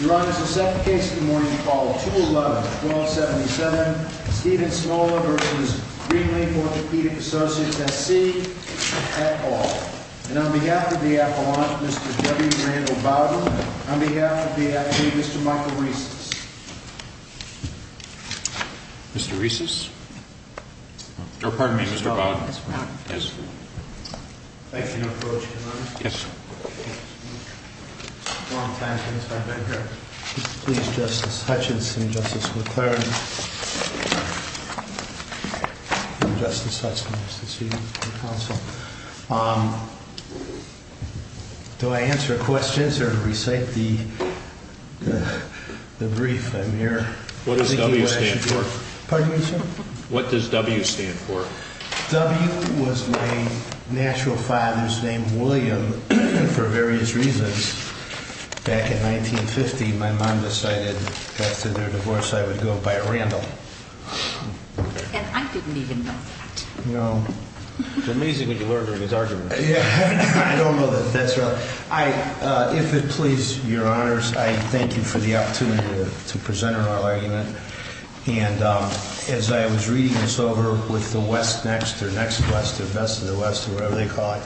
Your Honor, the second case of the morning is called 211-1277, Stephen Smola v. Greenleaf Orthopedic Associates, S.C. at all. And on behalf of the appellant, Mr. W. Randall Bowden. On behalf of the attorney, Mr. Michael Reeses. Mr. Reeses? Oh, pardon me, Mr. Bowden. Thank you, Your Honor. Yes. It's been a long time since I've been here. Please, Justice Hutchins and Justice McLaren. Justice Hutchins, it's nice to see you. Do I answer questions or recite the brief? What does W stand for? Pardon me, sir? What does W stand for? W was my natural father's name, William, for various reasons. Back in 1950, my mom decided after their divorce I would go by Randall. And I didn't even know that. It's amazing what you learned during his argument. I don't know that that's right. If it pleases Your Honors, I thank you for the opportunity to present our argument. And as I was reading this over with the West Next, or Next West, or Best of the West, or whatever they call it,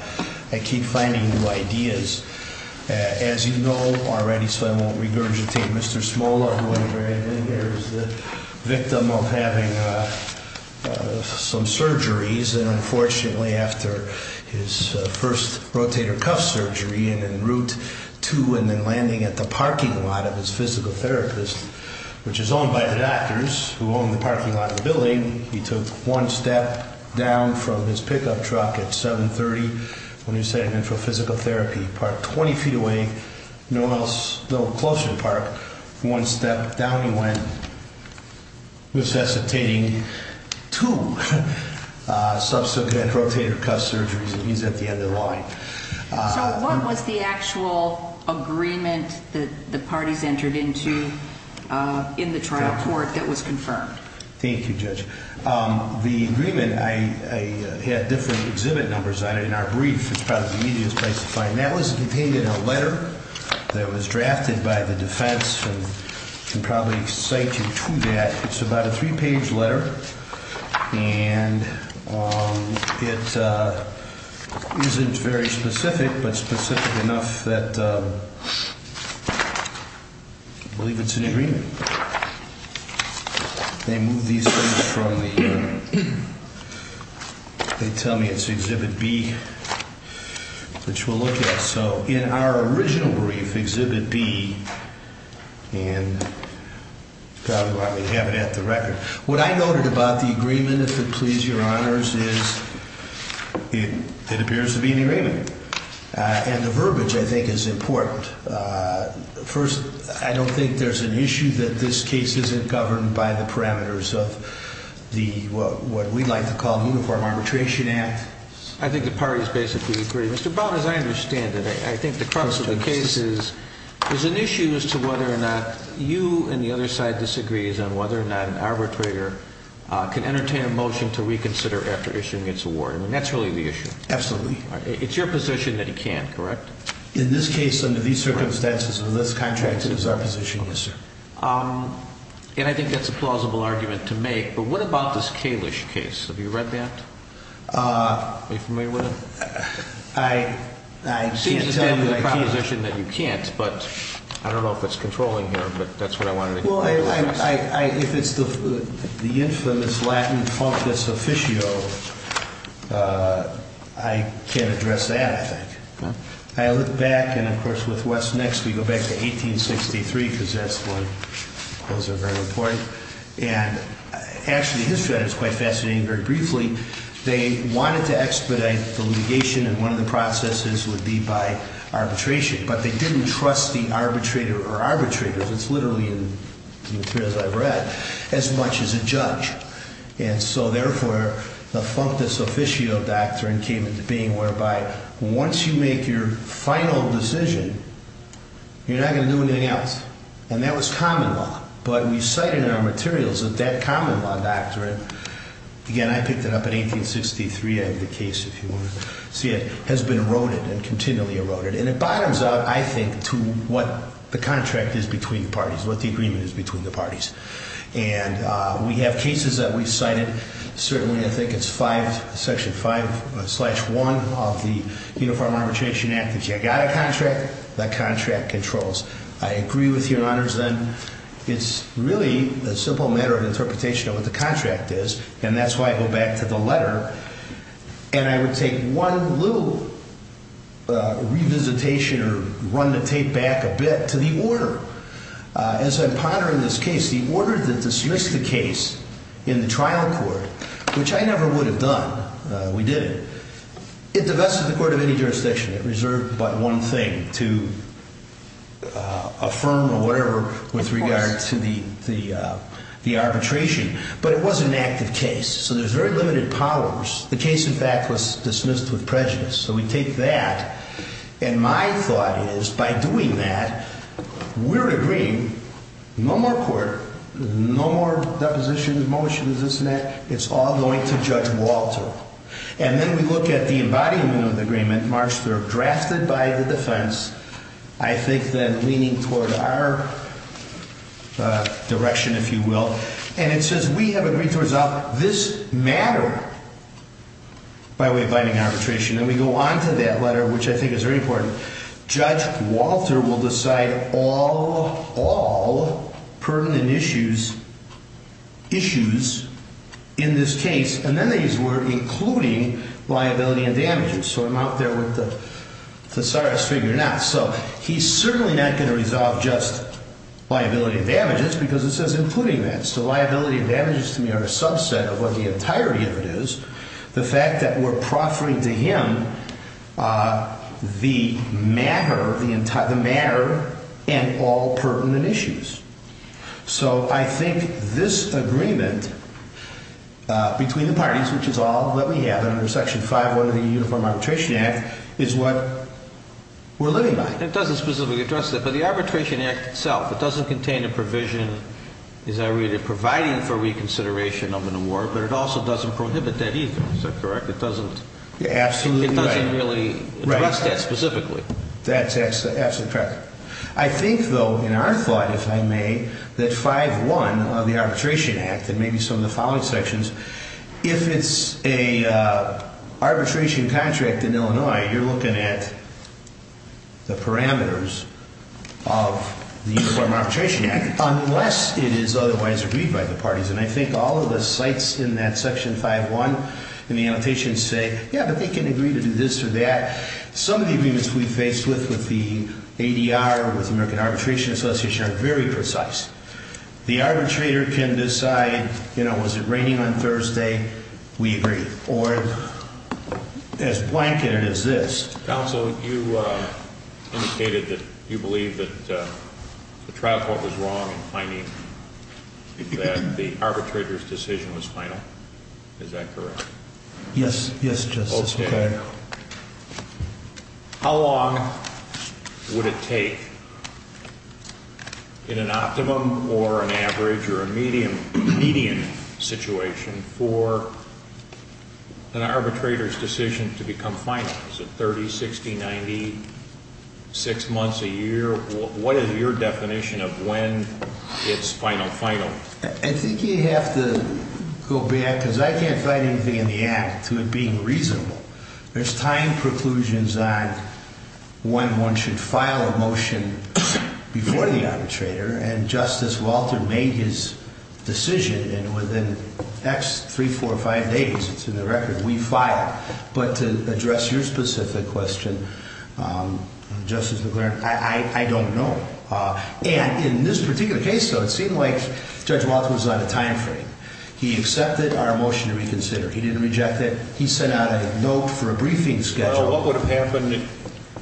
I keep finding new ideas. As you know already, so I won't regurgitate Mr. Smola, who at a very late age is the victim of having some surgeries. And unfortunately, after his first rotator cuff surgery, and then Route 2, and then landing at the parking lot of his physical therapist, which is owned by the doctors, who own the parking lot of the building, he took one step down from his pickup truck at 7.30 when he was heading in for physical therapy. He parked 20 feet away, no one else, a little closer to the park. One step down he went, necessitating two subsequent rotator cuff surgeries, and he's at the end of the line. So what was the actual agreement that the parties entered into in the trial court that was confirmed? Thank you, Judge. The agreement, I had different exhibit numbers on it in our brief. It's probably the easiest place to find. That was contained in a letter that was drafted by the defense, and I can probably cite you to that. It's about a three-page letter, and it isn't very specific, but specific enough that I believe it's an agreement. They move these things from the, they tell me it's exhibit B, which we'll look at. So in our original brief, exhibit B, and you probably want me to have it at the record. What I noted about the agreement, if it please your honors, is it appears to be an agreement. And the verbiage, I think, is important. First, I don't think there's an issue that this case isn't governed by the parameters of the, what we like to call, Uniform Arbitration Act. I think the parties basically agree. Mr. Brown, as I understand it, I think the crux of the case is there's an issue as to whether or not you and the other side disagrees on whether or not an arbitrator can entertain a motion to reconsider after issuing its award. I mean, that's really the issue. Absolutely. It's your position that he can't, correct? In this case, under these circumstances, unless contracted is our position, yes, sir. And I think that's a plausible argument to make, but what about this Kalish case? Have you read that? Are you familiar with it? I can't tell you that I can't. You seem to stand for the proposition that you can't, but I don't know if it's controlling here, but that's what I wanted to know. Well, if it's the infamous Latin functus officio, I can't address that, I think. I look back, and of course, with what's next, we go back to 1863, because that's when those are very important. And actually, the history of that is quite fascinating. Very briefly, they wanted to expedite the litigation, and one of the processes would be by arbitration. But they didn't trust the arbitrator or arbitrators, it's literally in the materials I've read, as much as a judge. And so, therefore, the functus officio doctrine came into being, whereby once you make your final decision, you're not going to do anything else. And that was common law. But we cite in our materials that that common law doctrine, again, I picked it up in 1863, I have the case, if you want to see it, has been eroded and continually eroded. And it bottoms out, I think, to what the contract is between the parties, what the agreement is between the parties. And we have cases that we've cited, certainly, I think it's section 5, slash 1 of the Uniform Arbitration Act. If you've got a contract, the contract controls. I agree with you, Your Honors, that it's really a simple matter of interpretation of what the contract is, and that's why I go back to the letter. And I would take one little revisitation or run the tape back a bit to the order. As I ponder in this case, the order that dismissed the case in the trial court, which I never would have done, we didn't, it divested the court of any jurisdiction. It reserved but one thing, to affirm or whatever with regard to the arbitration. But it was an active case, so there's very limited powers. The case, in fact, was dismissed with prejudice. So we take that, and my thought is, by doing that, we're agreeing, no more court, no more depositions, motions, this and that, it's all going to Judge Walter. And then we look at the embodiment of the agreement, March 3rd, drafted by the defense, I think then leaning toward our direction, if you will. And it says, we have agreed to resolve this matter by way of binding arbitration. And we go on to that letter, which I think is very important. It says, Judge Walter will decide all permanent issues in this case, and then they use the word, including liability and damages. So I'm out there with the thesaurus figure now. So he's certainly not going to resolve just liability and damages, because it says including that. So liability and damages to me are a subset of what the entirety of it is. The fact that we're proffering to him the matter and all pertinent issues. So I think this agreement between the parties, which is all that we have under Section 5-1 of the Uniform Arbitration Act, is what we're living by. It doesn't specifically address that. But the Arbitration Act itself, it doesn't contain a provision, as I read it, providing for reconsideration of an award, but it also doesn't prohibit that either. Is that correct? It doesn't really address that specifically. That's absolutely correct. I think, though, in our thought, if I may, that 5-1 of the Arbitration Act, and maybe some of the following sections, if it's an arbitration contract in Illinois, you're looking at the parameters of the Uniform Arbitration Act, unless it is otherwise agreed by the parties. And I think all of the sites in that Section 5-1 in the annotations say, yeah, but they can agree to do this or that. Some of the agreements we've faced with the ADR, with the American Arbitration Association, are very precise. The arbitrator can decide, you know, was it raining on Thursday? We agree. Or as blanketed as this. Counsel, you indicated that you believe that the trial court was wrong in finding that the arbitrator's decision was final. Is that correct? Yes. Yes, Justice. How long would it take, in an optimum or an average or a median situation, for an arbitrator's decision to become final? Is it 30, 60, 90, 6 months, a year? What is your definition of when it's final, final? I think you have to go back, because I can't find anything in the Act to it being reasonable. There's time preclusions on when one should file a motion before the arbitrator. And Justice Walter made his decision, and within X, 3, 4, 5 days, it's in the record, we file. But to address your specific question, Justice McClaren, I don't know. And in this particular case, though, it seemed like Judge Walter was on a time frame. He accepted our motion to reconsider. He didn't reject it. He sent out a note for a briefing schedule. Well, what would have happened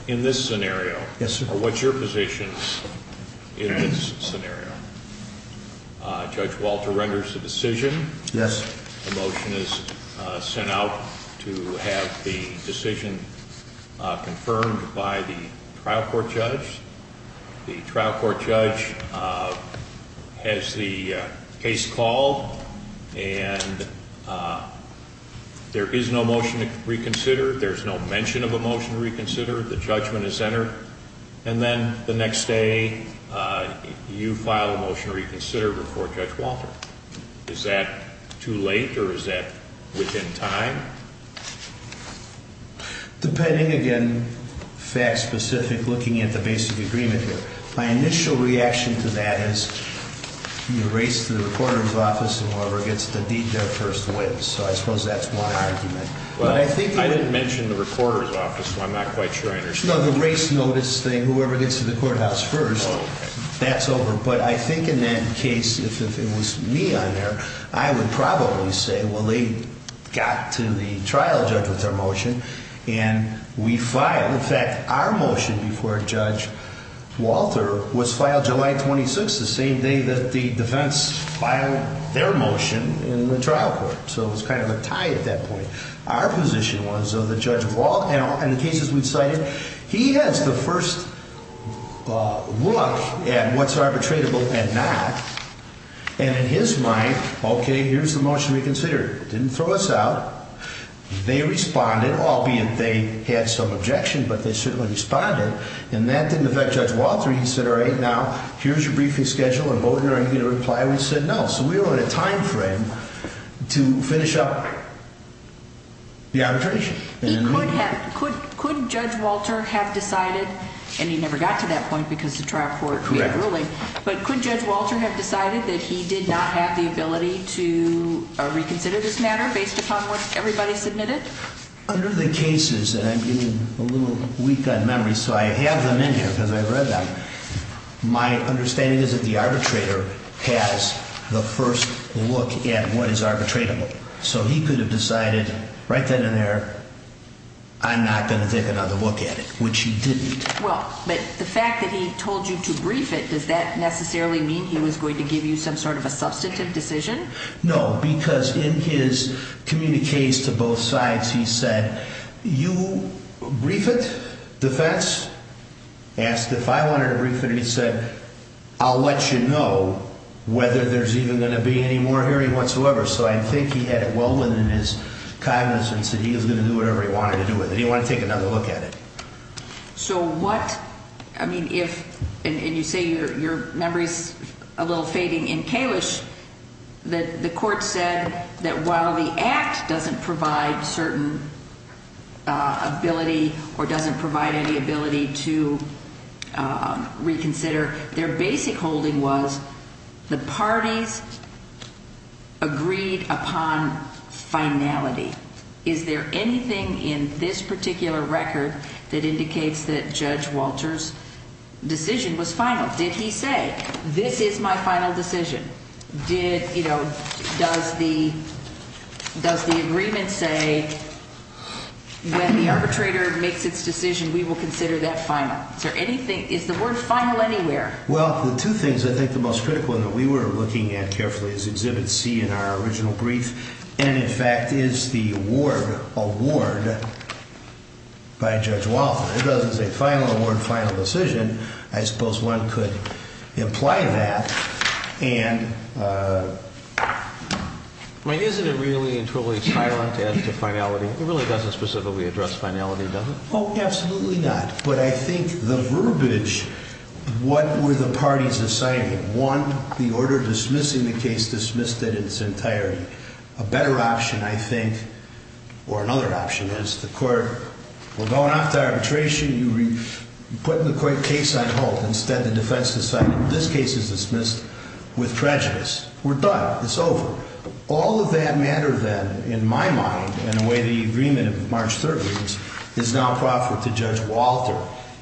in this scenario? Yes, sir. What's your position in this scenario? Judge Walter renders a decision. Yes. The motion is sent out to have the decision confirmed by the trial court judge. The trial court judge has the case called, and there is no motion to reconsider. There's no mention of a motion to reconsider. The judgment is entered. And then the next day, you file a motion to reconsider before Judge Walter. Is that too late, or is that within time? Depending, again, fact-specific, looking at the basic agreement here. My initial reaction to that is you race to the recorder's office, and whoever gets the deed there first wins. So I suppose that's one argument. I didn't mention the recorder's office, so I'm not quite sure I understand. No, the race notice thing. Whoever gets to the courthouse first, that's over. But I think in that case, if it was me on there, I would probably say, well, they got to the trial judge with their motion, and we filed. In fact, our motion before Judge Walter was filed July 26, the same day that the defense filed their motion in the trial court. So it was kind of a tie at that point. Our position was that Judge Walter, in the cases we've cited, he has the first look at what's arbitratable and not. And in his mind, okay, here's the motion reconsidered. It didn't throw us out. They responded, albeit they had some objection, but they certainly responded. And that didn't affect Judge Walter. He said, all right, now, here's your briefing schedule and vote, and are you going to reply? I said, no. So we were in a time frame to finish up the arbitration. Could Judge Walter have decided, and he never got to that point because the trial court made a ruling, but could Judge Walter have decided that he did not have the ability to reconsider this matter based upon what everybody submitted? Under the cases, and I'm getting a little weak on memory, so I have them in here because I've read them, my understanding is that the arbitrator has the first look at what is arbitratable. So he could have decided right then and there, I'm not going to take another look at it, which he didn't. Well, but the fact that he told you to brief it, does that necessarily mean he was going to give you some sort of a substantive decision? No, because in his communiques to both sides, he said, you brief it, defense. He asked if I wanted to brief it, and he said, I'll let you know whether there's even going to be any more hearing whatsoever. So I think he had it well within his cognizance that he was going to do whatever he wanted to do with it. He didn't want to take another look at it. So what, I mean, if, and you say your memory's a little fading. In Kalish, the court said that while the act doesn't provide certain ability or doesn't provide any ability to reconsider, their basic holding was the parties agreed upon finality. Is there anything in this particular record that indicates that Judge Walter's decision was final? Did he say, this is my final decision? Did, you know, does the, does the agreement say when the arbitrator makes its decision, we will consider that final? Is there anything, is the word final anywhere? Well, the two things I think the most critical that we were looking at carefully is Exhibit C in our original brief, and in fact is the award, award by Judge Walter. It doesn't say final award, final decision. I suppose one could imply that. And, I mean, isn't it really entirely silent as to finality? It really doesn't specifically address finality, does it? Oh, absolutely not. But I think the verbiage, what were the parties deciding? One, the order dismissing the case dismissed it in its entirety. A better option, I think, or another option is, the court, we're going off to arbitration, you put the case on hold. Instead, the defense decided this case is dismissed with prejudice. We're done. It's over. All of that matter then, in my mind, in the way the agreement of March 3rd reads, is now proper to Judge Walter.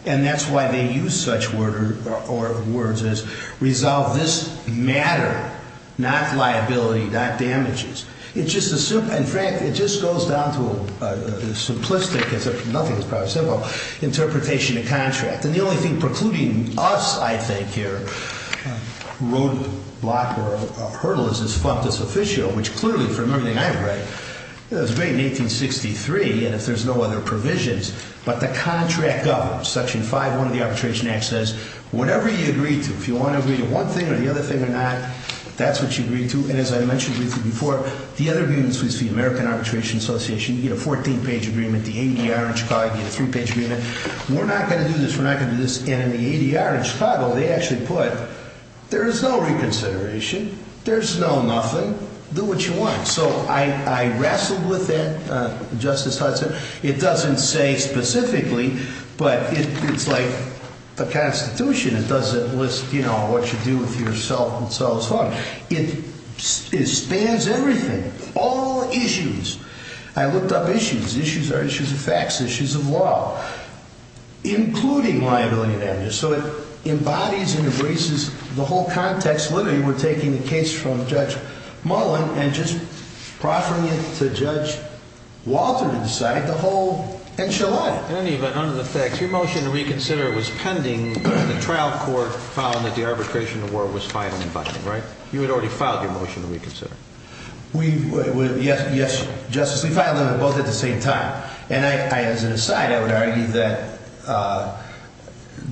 And that's why they use such words as resolve this matter, not liability, not damages. In fact, it just goes down to a simplistic, it's nothing, it's probably simple, interpretation of contract. And the only thing precluding us, I think, here, roadblock or hurdle, is this fundus officio, which clearly, from everything I've read, it was made in 1863, and if there's no other provisions, but the contract governs. Section 5-1 of the Arbitration Act says, whatever you agree to, if you want to agree to one thing or the other thing or not, that's what you agree to. And as I mentioned briefly before, the other view in this was the American Arbitration Association. You get a 14-page agreement. The ADR in Chicago, you get a three-page agreement. We're not going to do this. We're not going to do this. And in the ADR in Chicago, they actually put, there is no reconsideration. There's no nothing. Do what you want. So I wrestled with that, Justice Hudson. It doesn't say specifically, but it's like the Constitution. It doesn't list, you know, what you do with yourself and so on. It spans everything. All issues. I looked up issues. Issues are issues of facts, issues of law, including liability and damages. So it embodies and embraces the whole context. Literally, we're taking the case from Judge Mullen and just proffering it to Judge Walter to decide the whole enchilada. In any event, under the facts, your motion to reconsider was pending when the trial court found that the arbitration award was filed in the budget, right? You had already filed your motion to reconsider. Yes, Justice. We filed them both at the same time. And as an aside, I would argue that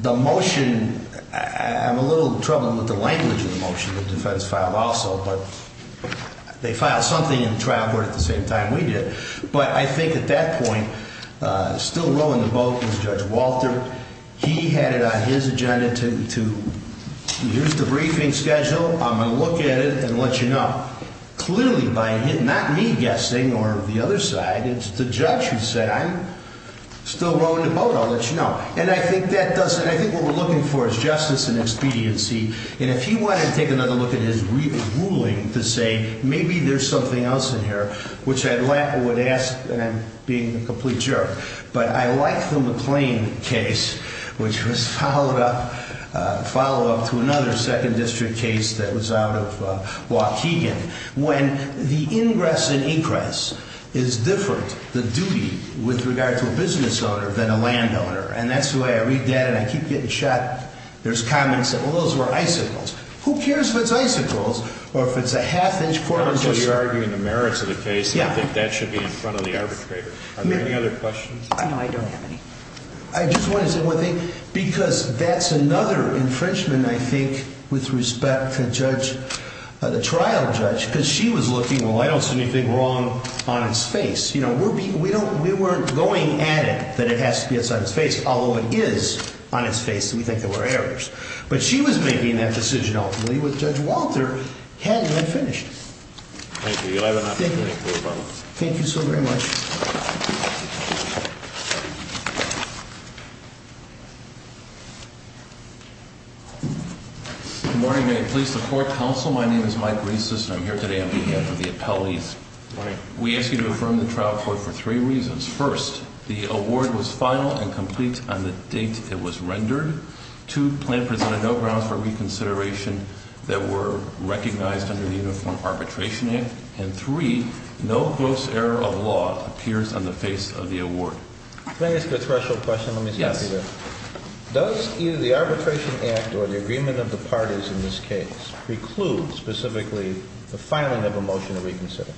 the motion, I'm a little troubled with the language of the motion that the defense filed also, but they filed something in the trial court at the same time we did. But I think at that point, still rowing the boat was Judge Walter. He had it on his agenda to use the briefing schedule, I'm going to look at it, and let you know. Clearly, by not me guessing or the other side, it's the judge who said, I'm still rowing the boat, I'll let you know. And I think what we're looking for is justice and expediency. And if he wanted to take another look at his ruling to say, maybe there's something else in here, which I would ask, and I'm being a complete jerk, but I like the McLean case, which was a follow-up to another major case that was out of Waukegan, when the ingress and egress is different, the duty, with regard to a business owner than a landowner. And that's the way I read that, and I keep getting shot, there's comments that, well, those were icicles. Who cares if it's icicles, or if it's a half-inch corner. I'm not sure you're arguing the merits of the case, and I think that should be in front of the arbitrator. Are there any other questions? No, I don't have any. I just wanted to say one thing, because that's another infringement, I think, with respect to the trial judge, because she was looking, well, I don't see anything wrong on his face. You know, we weren't going at it that it has to be outside his face, although it is on his face, and we think there were errors. But she was making that decision, ultimately, which Judge Walter had not finished. Thank you. You'll have an opportunity to do so. Thank you so very much. Thank you. Good morning. May it please the Court, Counsel, my name is Mike Rieses, and I'm here today on behalf of the appellees. Good morning. We ask you to affirm the trial court for three reasons. First, the award was final and complete on the date it was rendered. Two, the plan presented no grounds for reconsideration that were recognized under the Uniform Arbitration Act. And three, no gross error of law appears on the face of the award. Can I ask a special question? Yes. Does either the Arbitration Act or the agreement of the parties in this case preclude, specifically, the filing of a motion to reconsider?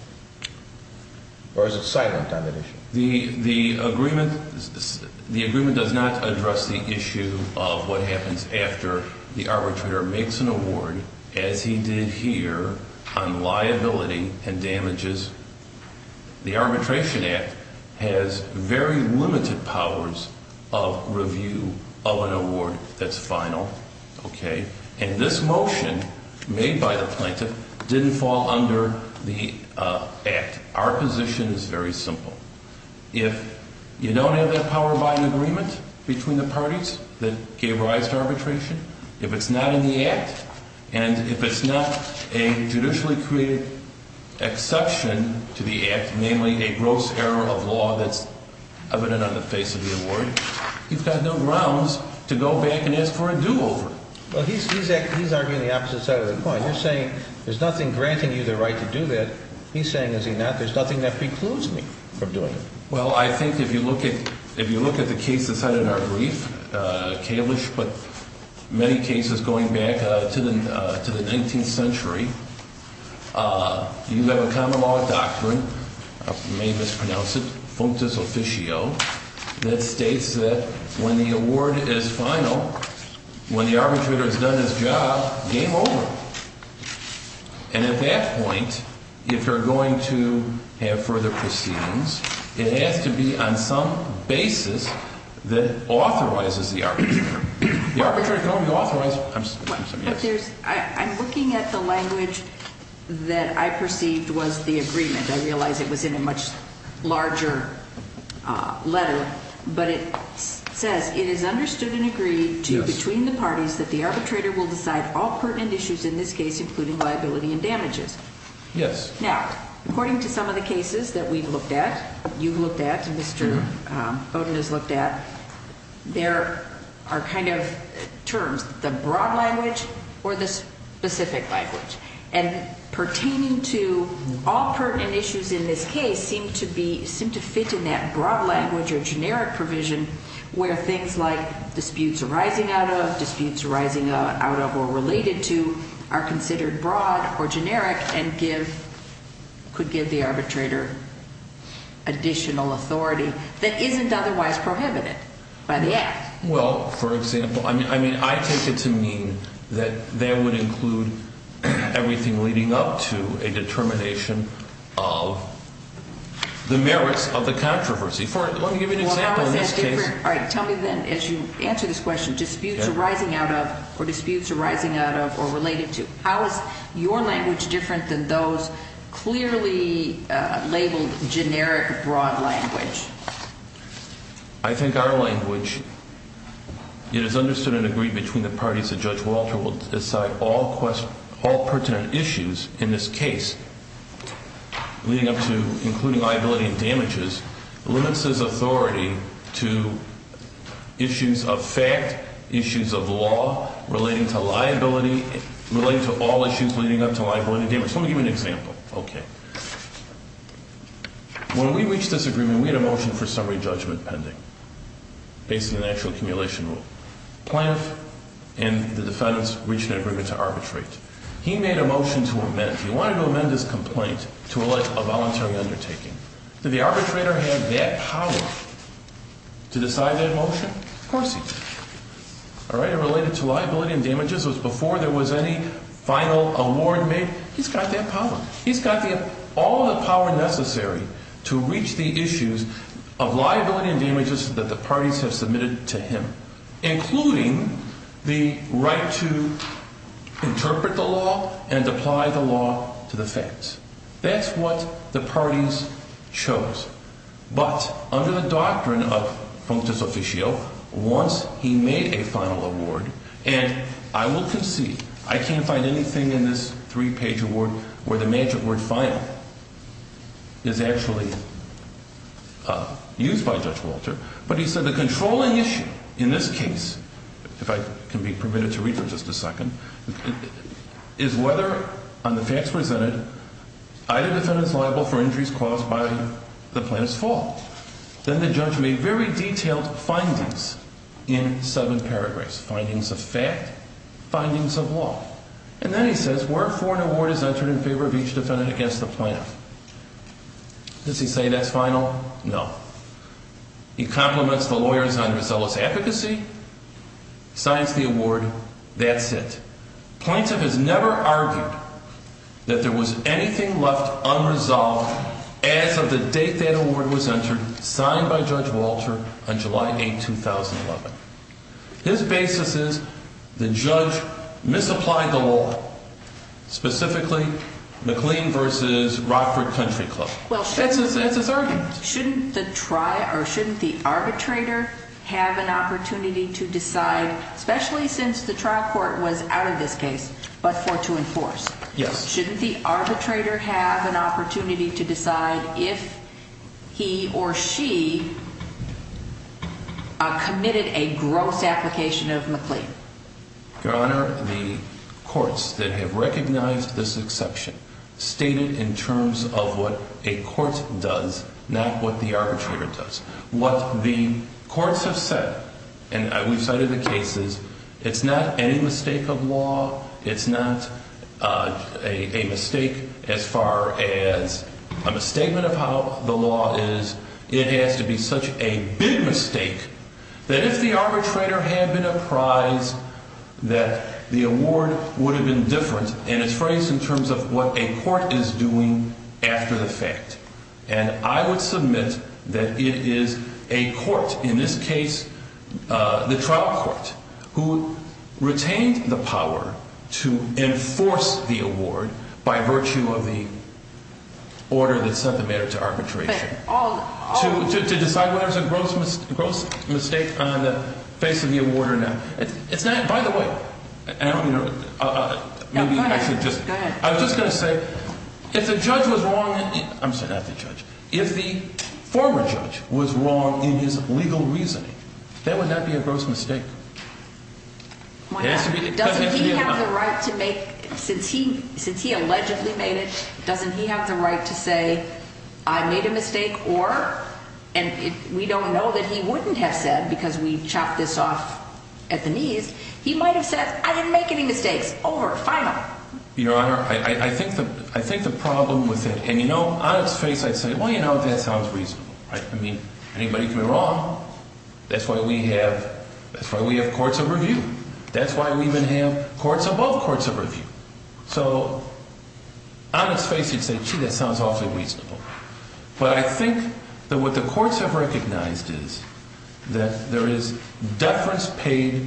Or is it silent on that issue? The agreement does not address the issue of what happens after the arbitrator makes an award, as he did here, on liability and damages. The Arbitration Act has very limited powers of review of an award that's final. Okay? And this motion made by the plaintiff didn't fall under the Act. Our position is very simple. If you don't have that power by an agreement between the parties that gave rise to arbitration, if it's not in the Act, and if it's not a judicially created exception to the Act, namely a gross error of law that's evident on the face of the award, you've got no grounds to go back and ask for a do-over. Well, he's arguing the opposite side of the point. You're saying there's nothing granting you the right to do that. He's saying, is he not, there's nothing that precludes me from doing it. Well, I think if you look at the cases cited in our brief, Kalish, but many cases going back to the 19th century, you have a common law doctrine I may mispronounce it, functus officio, that states that when the award is final, when the arbitrator has done his job, game over. And at that point, if you're going to have further proceedings, it has to be on some basis that authorizes the arbitrator. The arbitrator can only authorize, I'm sorry, yes? I'm looking at the language that I perceived was the agreement. It's in a much larger letter, but it says, it is understood and agreed to between the parties that the arbitrator will decide all pertinent issues in this case, including liability and damages. Yes. Now, according to some of the cases that we've looked at, you've looked at, Mr. Bowden has looked at, there are kind of terms, the broad language or the specific language. And pertaining to all pertinent issues in this case seem to fit in that broad language or generic provision where things like disputes arising out of, disputes arising out of or related to are considered broad or generic and give, could give the arbitrator additional authority that isn't otherwise prohibited by the act. Well, for example, I mean, I take it to mean that that would include everything leading up to a determination of the merits of the controversy. Let me give you an example in this case. All right. Tell me then, as you answer this question, disputes arising out of or disputes arising out of or related to, than those clearly labeled generic broad language? I think our language, it is understood and agreed between the parties that Judge Walter will decide all pertinent issues in this case leading up to, including liability and damages, limits his authority to issues of fact, issues of law relating to liability, relating to all issues leading up to liability and damages. Let me give you an example. Okay. When we reached this agreement, we had a motion for summary judgment pending based on the actual accumulation rule. Plaintiff and the defendants reached an agreement to arbitrate. He made a motion to amend. He wanted to amend his complaint to a voluntary undertaking. Did the arbitrator have that power to decide that motion? Of course he did. All right. It related to liability and damages. It was before there was any final award made. He's got that power. He's got all the power necessary to reach the issues of liability and damages that the parties have submitted to him, including the right to interpret the law and apply the law to the facts. That's what the parties chose. But under the doctrine of functus officio, once he made a final award, and I will concede, I can't find anything in this three-page award where the magic word final is actually used by Judge Walter, but he said the controlling issue in this case, if I can be permitted to read for just a second, is whether on the facts presented either defendant is liable for injuries caused by the plaintiff's fault. Then the judge made very detailed findings in seven paragraphs, findings of fact, findings of law. And then he says, wherefore an award is entered in favor of each defendant against the plaintiff. Does he say that's final? No. He compliments the lawyers on resource efficacy, signs the award, that's it. Plaintiff has never argued that there was anything left unresolved as of the date that award was entered, signed by Judge Walter on July 8, 2011. His basis is that the judge misapplied the law, specifically McLean versus Rockford Country Club. That's his argument. Shouldn't the trial or shouldn't the arbitrator have an opportunity to decide, especially since the trial court was out of this case, but for it to enforce? Yes. Shouldn't the arbitrator have an opportunity to decide if he or she committed a gross application of McLean? Your Honor, the courts that have recognized this exception stated in terms of what a court does, not what the arbitrator does. What the courts have said, and we've cited the cases, it's not any mistake of law. It's not a mistake as far as a misstatement of how the law is. It has to be such a big mistake that if the arbitrator had been apprised that the award would have been different, and it's phrased in terms of what a court is doing after the fact. And I would submit that it is a court, in this case, the trial court, who retained the power to enforce the award by virtue of the order that set the matter to arbitration. To decide whether it's a gross mistake on the face of the award or not. By the way, I was just going to say, if the judge was wrong, I'm sorry, not the judge, if the former judge was wrong in his legal reasoning, that would not be a gross mistake. Doesn't he have the right to make, since he allegedly made it, doesn't he have the right to say, I made a mistake, or, and we don't know that he wouldn't have said, because we chopped this off at the knees, he might have said, I didn't make any mistakes. Over. Final. Your Honor, I think the problem with it, and you know, on its face, I'd say, well, you know, that sounds reasonable, right? I mean, anybody can be wrong. That's why we have courts of review. That's why we even have courts above courts of review. So, on its face, you'd say, gee, that sounds awfully reasonable. But I think that what the courts have recognized is that there is deference paid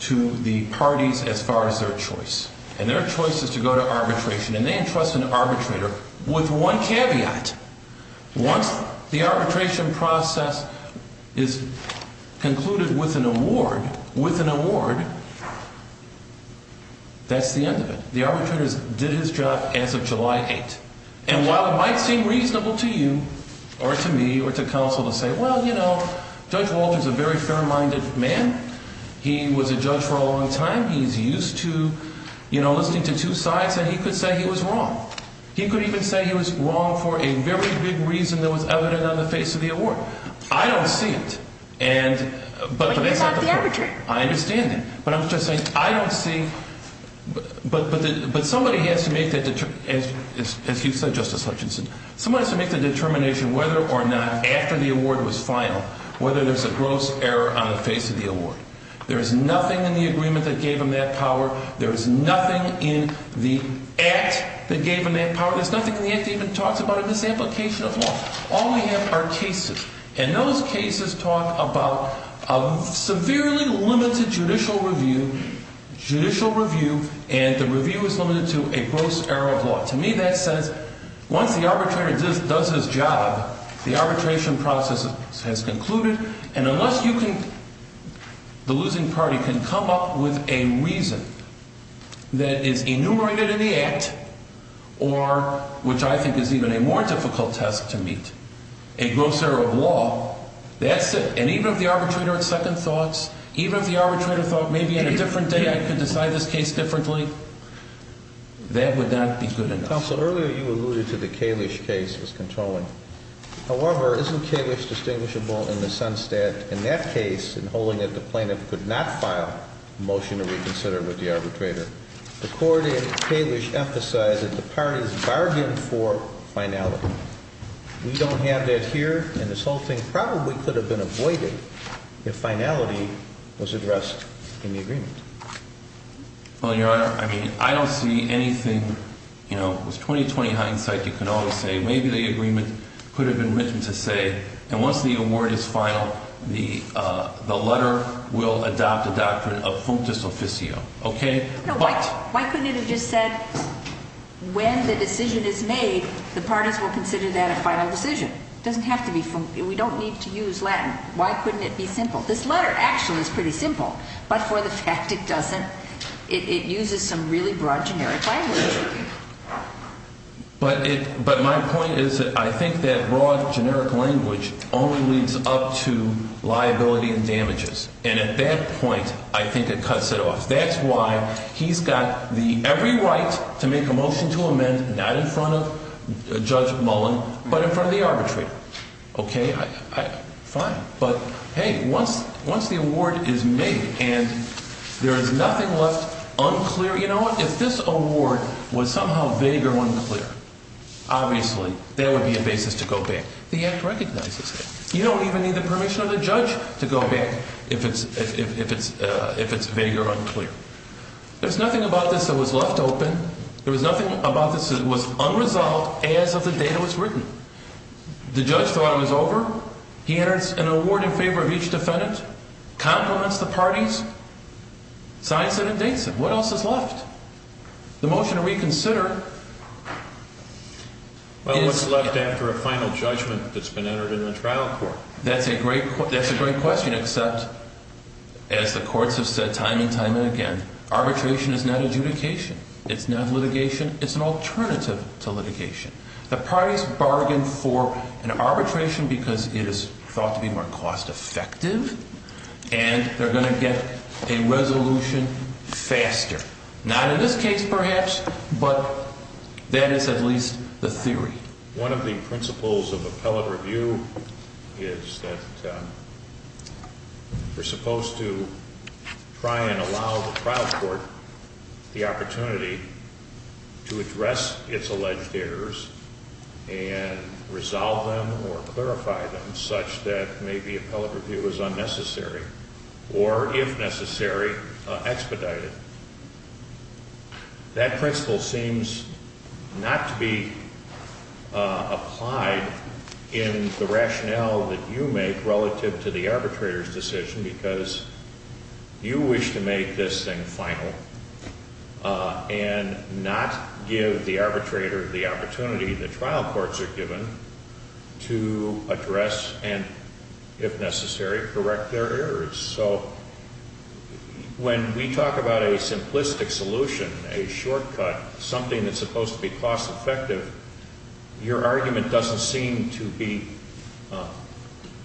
to the parties as far as their choice. And their choice is to go to arbitration. And they entrust an arbitrator with one caveat. Once the arbitration process is concluded with an award, with an award, that's the end of it. The arbitrator did his job as of July 8th. And while it might seem reasonable to you, or to me, or to counsel to say, well, you know, Judge Walter is a very fair-minded man. He was a judge for a long time. He's used to, you know, listening to two sides and he could say he was wrong. He could even say he was wrong for a very big reason that was evident on the face of the award. I don't see it. And, but, but that's not the point. I understand that. But I'm just saying I don't see, but, but, but somebody has to make that, as you said, Justice Hutchinson, somebody has to make the determination whether or not after the award was final, whether there's a gross error on the face of the award. There is nothing in the agreement that gave him that power. There is nothing in the act that gave him that power. There's nothing in the act that even talks about a misapplication of law. All we have are cases. And those cases talk about a severely limited judicial review, judicial review, and the review is limited to a gross error of law. To me, that says once the arbitrator does his job, the arbitration process has concluded, and unless you can, the losing party can come up with a reason that is enumerated in the act, or, which I think is even a more difficult test to meet. A gross error of law, that's it. And even if the arbitrator had second thoughts, even if the arbitrator thought, maybe on a different day I could decide this case differently, that would not be good enough. Counsel, earlier you alluded to the Kalish case as controlling. However, isn't Kalish distinguishable in the sense that, in that case, in holding it, the plaintiff could not file a motion to reconsider with the arbitrator. The court in Kalish emphasized that the parties bargained for finality. We don't have that here, and this whole thing probably could have been avoided if finality was addressed in the agreement. Well, your Honor, I mean, I don't see anything, you know, with 20-20 hindsight you can always say, maybe the agreement could have been written to say, and once the award is final, the, the decision is made. Okay? Why couldn't it have just said, when the decision is made, the parties will consider that a final decision? It doesn't have to be, we don't need to use Latin. Why couldn't it be simple? This letter actually is pretty simple, but for the fact it doesn't, it uses some really broad generic language. But it, but my point is that I think that broad generic language only leads up to liability and damages. And at that point, I think it cuts it off. That's why he's got the, every right to make a motion to amend, not in front of Judge Mullen, but in front of the arbitrator. Okay? I, I, fine. But, hey, once, once the award is made and there is nothing left unclear, you know what, if this award was somehow vague or unclear, obviously, there would be a basis to go back. The Act recognizes that. You don't even need the permission of the judge to go back if it's, if it's, if it's vague or unclear. There's nothing about this that was left open. There was nothing about this that was unresolved as of the date it was written. The judge thought it was over. He enters an award in favor of each defendant, compliments the parties, signs it and dates it. What else is left? The motion to reconsider is... Well, what's left after a final judgment that's been entered in the trial court? That's a great, that's a great question except, as the courts have said time and time and again, arbitration is not adjudication. It's not litigation. It's an alternative to litigation. The parties bargain for an arbitration because it is thought to be more cost effective and they're going to get a resolution faster. Not in this case perhaps, but that is at least the theory. One of the principles of court is to try and allow the trial court the opportunity to address its alleged errors and resolve them or clarify them such that maybe appellate review is unnecessary or, if necessary, expedited. That principle seems not to be applied in the rationale that you make relative to the case. You wish to make this thing final and not give the arbitrator the opportunity the trial courts are given to address and, if necessary, correct their errors. So when we talk about a simplistic solution, a shortcut, something that's supposed to be cost effective, your argument doesn't seem to be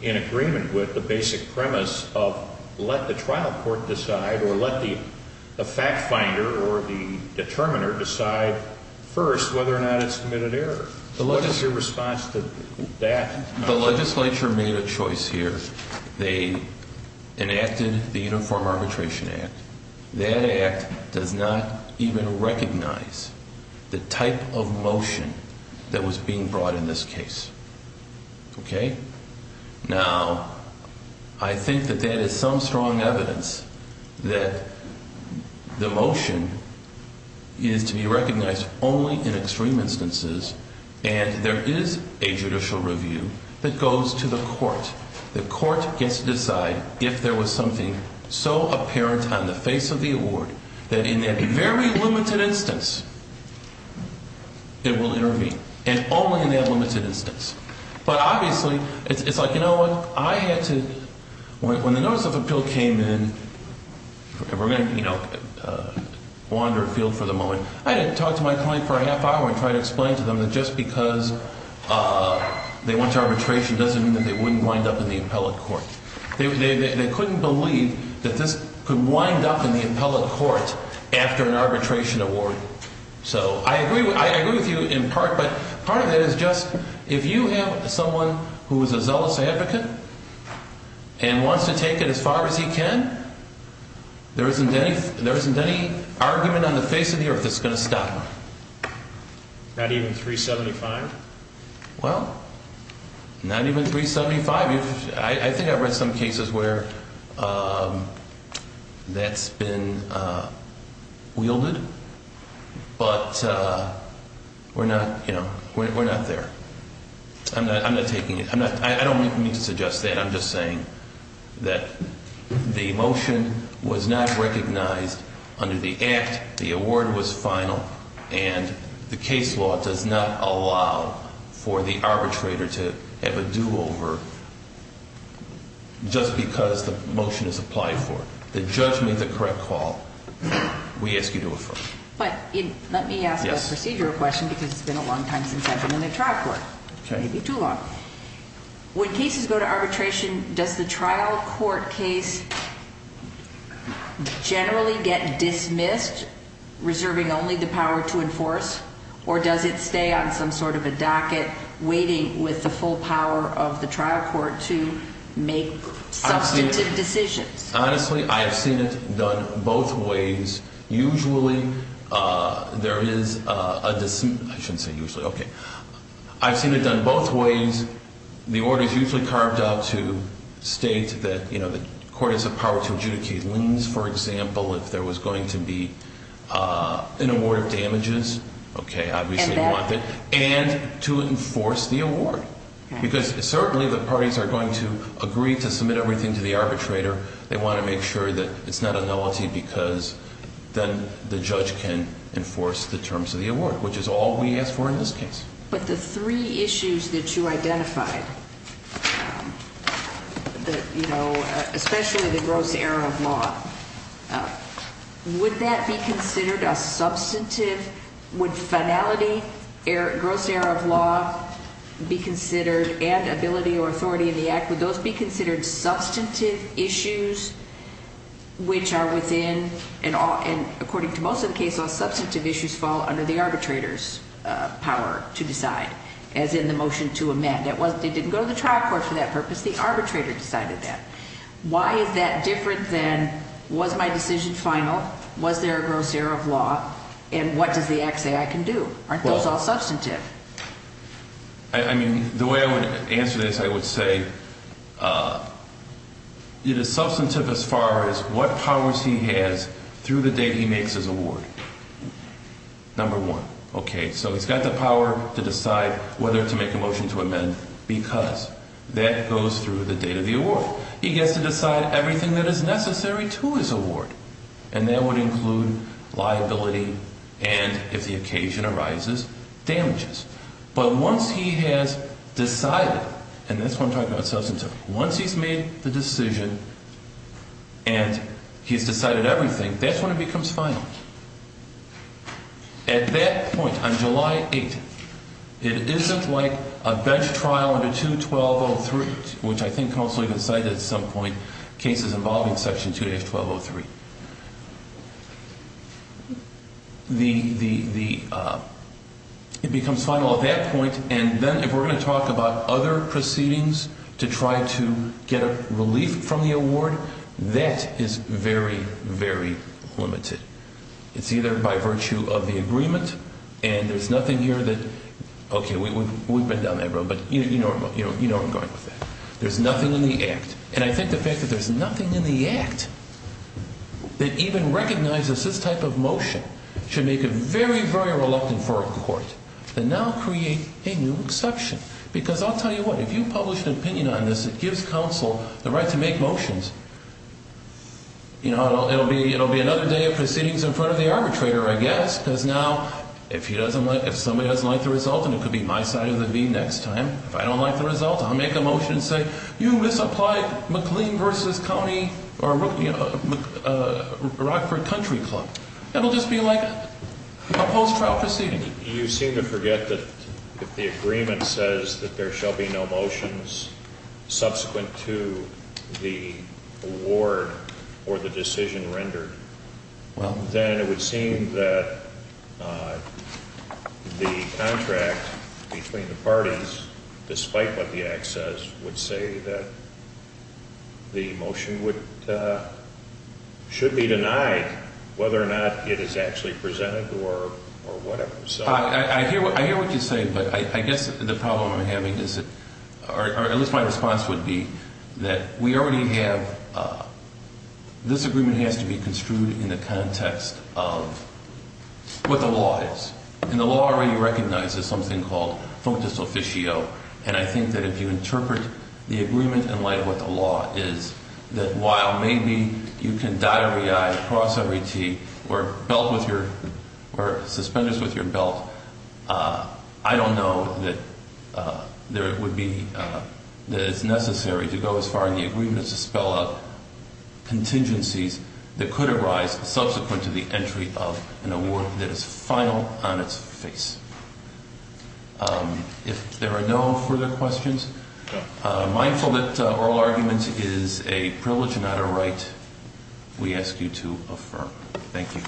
in agreement with the basic premise of let the trial court decide or let the fact finder or the determiner decide first whether or not it submitted errors. What is your response to that? The legislature made a choice here. They enacted the Uniform Arbitration Act. That is a strong evidence that the motion is to be recognized only in extreme instances and there is a judicial review that goes to the court. The court gets to decide if there was something so apparent on the face of the court. But obviously when the notice of appeal came in, I had to talk to my client for a half hour and try to explain to them that just because they went to arbitration doesn't mean they wouldn't wind up in the appellate court. They couldn't believe that this could happen. If someone is a zealous advocate and wants to take it as far as he can, there isn't any argument on the face of the earth that is going to stop him. Not even 375? Well, not even 375. I think I've read some cases where that's been wielded. But we're not, you know, we're not there. I'm not taking it. I don't mean to suggest that. I'm just saying that the motion was not recognized under the act. The award was final. And the case law does not allow for the arbitrator to have a do-over just because the motion is applied for. The judge made the correct call. We ask you to affirm. But let me ask question because it's been a long time since I've been in a trial court. When cases go to arbitration, does the trial court have the full power of the trial court to make substantive decisions? Honestly, I've seen it done both ways. Usually there is a I shouldn't say usually. Okay. I've seen it done both ways. The order is usually carved out to state that the court has the power to adjudicate liens, for example, if there was going to be an award of damages, and to enforce the award. Because certainly the parties are going to agree to submit everything to the arbitrator. They want to make sure it's not a nullity because then the judge can enforce the terms of the award, which is all we ask for in this case. But the three issues that you identified, especially the gross error of law, would that be considered a substantive would finality, gross error of law be considered and ability or authority in the act, would those be considered substantive issues, which are within and according to most of the case, all substantive issues fall under the arbitrator's power to decide, as in the motion to amend. It didn't go to the trial court for that purpose. It was the arbitrator who decided that. Why is that different than was my decision final, was there a gross error of law, and what does the act say I can do? Aren't those all substantive? The way I would answer this, I would say it is substantive as far as what powers he has through the date he makes his award. Number one, okay, so he's got the power to decide whether to make a motion to amend because that goes through the date of the award. He gets to decide everything that is necessary to his award, and that would include liability and, if the occasion arises, damages. But once he has decided, and that's what I'm talking about substantive, once he's made the decision and he's decided everything, that's when it becomes final. At that point, on July 8th, it isn't like a bench trial under Section 2, 1203, which I think I also cited at some point, cases involving Section 2, 1203. It becomes final at that point, and then if we're going to talk about other proceedings to try to get a relief from the award, that is very, very limited. It's either by virtue of the agreement, and there's nothing here that, okay, we've been down that road, but you know where I'm going with that. There's nothing in the Act. And I think the fact that there's nothing in the Act that even recognizes this type of motion should make it very, very reluctant for a court to now create a new exception. Because I'll tell you what, if you publish an opinion on this, it gives counsel the right to make motions. You know, it'll be another day of proceedings in front of the arbitrator, I guess, because now if somebody doesn't like the result, and it will just be like a post-trial proceeding. You seem to forget that if the agreement says that there shall be no motions subsequent to the award or the decision rendered, then it would seem that the contract between the parties, despite what the Act says, would say that the motion should be denied whether or not it is actually presented or whatever. I hear what you say, but I guess the problem I'm having is that, or at least my response would be that we already have, this agreement has to be construed in the context of what the law is. And the law already recognizes something called functus officio. And I think that if you interpret the agreement in light of what the law is, that while maybe you can cross every T or suspenders with your belt, I don't know that there would be, that it's necessary to go as far as the agreement is to spell out contingencies that could arise subsequent to the entry of an award that is final on its face. If there are no further questions, mindful that oral argument is a privilege and not a right, we ask you to affirm. Thank you. »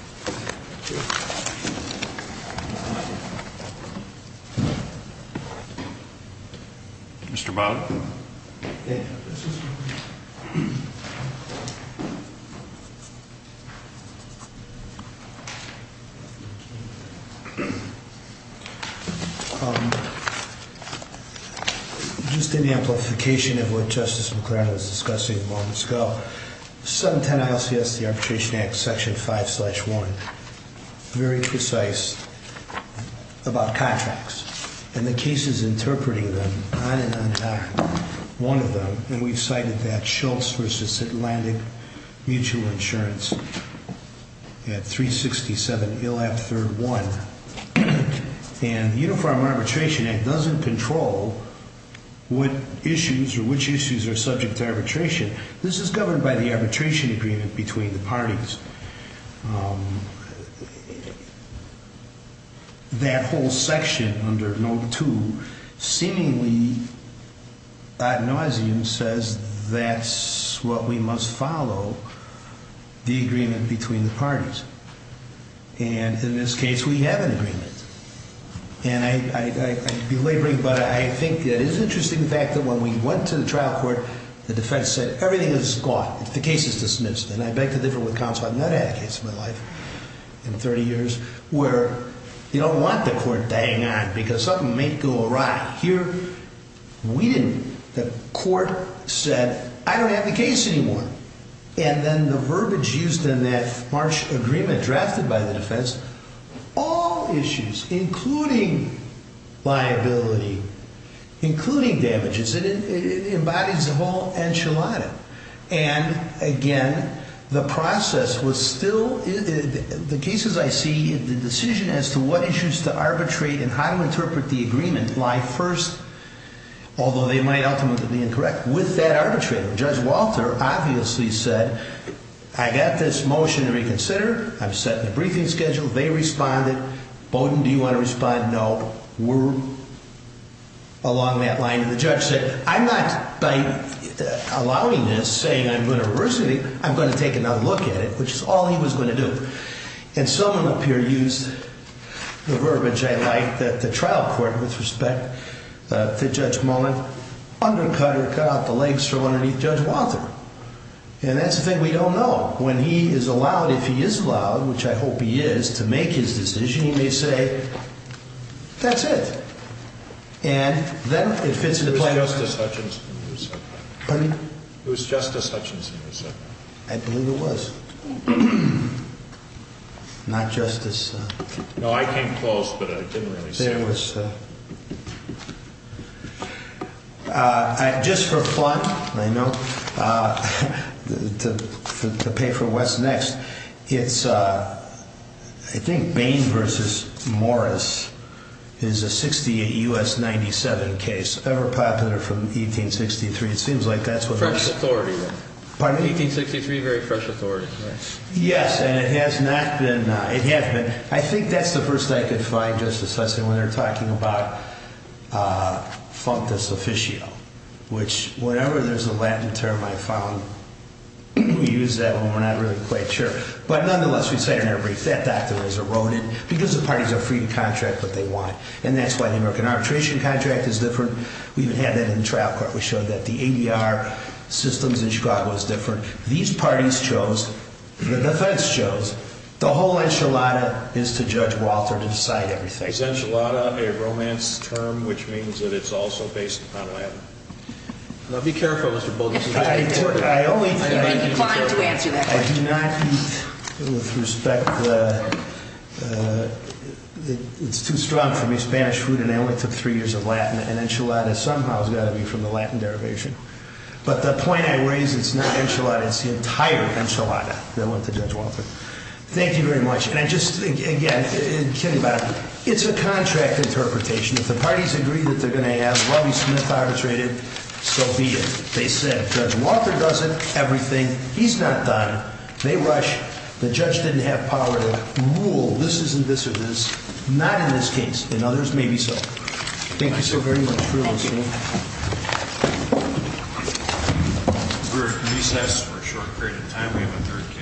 Mr. » Mr. Bowden. you. » Mr. » Thank you. » Thank you. » Mr. Bowden. » Thank you. » Just in the amplification of what justice McCrary was discussing moments ago, the arbitration act, section 5 slash 1, very precise about contracts. And the cases interpreting them, on and on, one of them, and we cited that Schultz versus Atlantic mutual insurance at 367 ILAP third 1, and as an agreement between the parties. That whole section under no. 2 seemingly says that's what we must follow, the agreement between the parties. And in this case we have an agreement and I could be laboring, but I think it's interesting the fact that when we went to the trial court, the defense said everything is gone, the case is dismissed, and I beg to differ with counsel, I've not had a case in my life in 30 years where you don't want the court dying on because something may go awry. Here we didn't. The court said I don't have the case anymore. And then the verbiage used in that March agreement drafted by the defense, all issues including liability, including damages, it embodies all enchilada. And again, the process was still the cases I see, the decision as to what issues to arbitrate and how to interpret the agreement lie first, although they might ultimately be incorrect. With that arbitrator, Judge Walter obviously said I got this motion to reconsider, I'm setting a briefing schedule, they responded, Bowdoin, do you want to respond? No. We're along that line. And the judge said, I'm not by allowing this, saying I'm going to reverse it, I'm going to take another look at it, which is all he was going to do. And someone up here used the verbiage I like, the trial court, with respect to Judge Bowdoin. That's it. And then it fits into the plan. It was Justice Hutchinson who said that. I believe it was. Not Justice No, I came close, but I didn't really say it. Just for fun, I know, to pay for what's next, it's, I think, Bain versus Morris is a 68 U.S. 97 case, ever popular from 1863. It seems like that's what... Fresh authority then. Pardon me? 1863, very fresh authority. Yes, and it has not been, it has been, I think that's the first thing I could say. I don't know what the second is. I know what the third thing is. I don't know what the fourth thing is. I don't know what the fifth thing is. I don't know what the sixth thing is. I don't know what the seventh thing is. I don't know what the eighth thing is. I don't know what tenth thing is. I don't know what the eleventh thing is. I don't know what the twelfth know what the eighteenth thing is. I don't know what the twelfth thing is. I don't know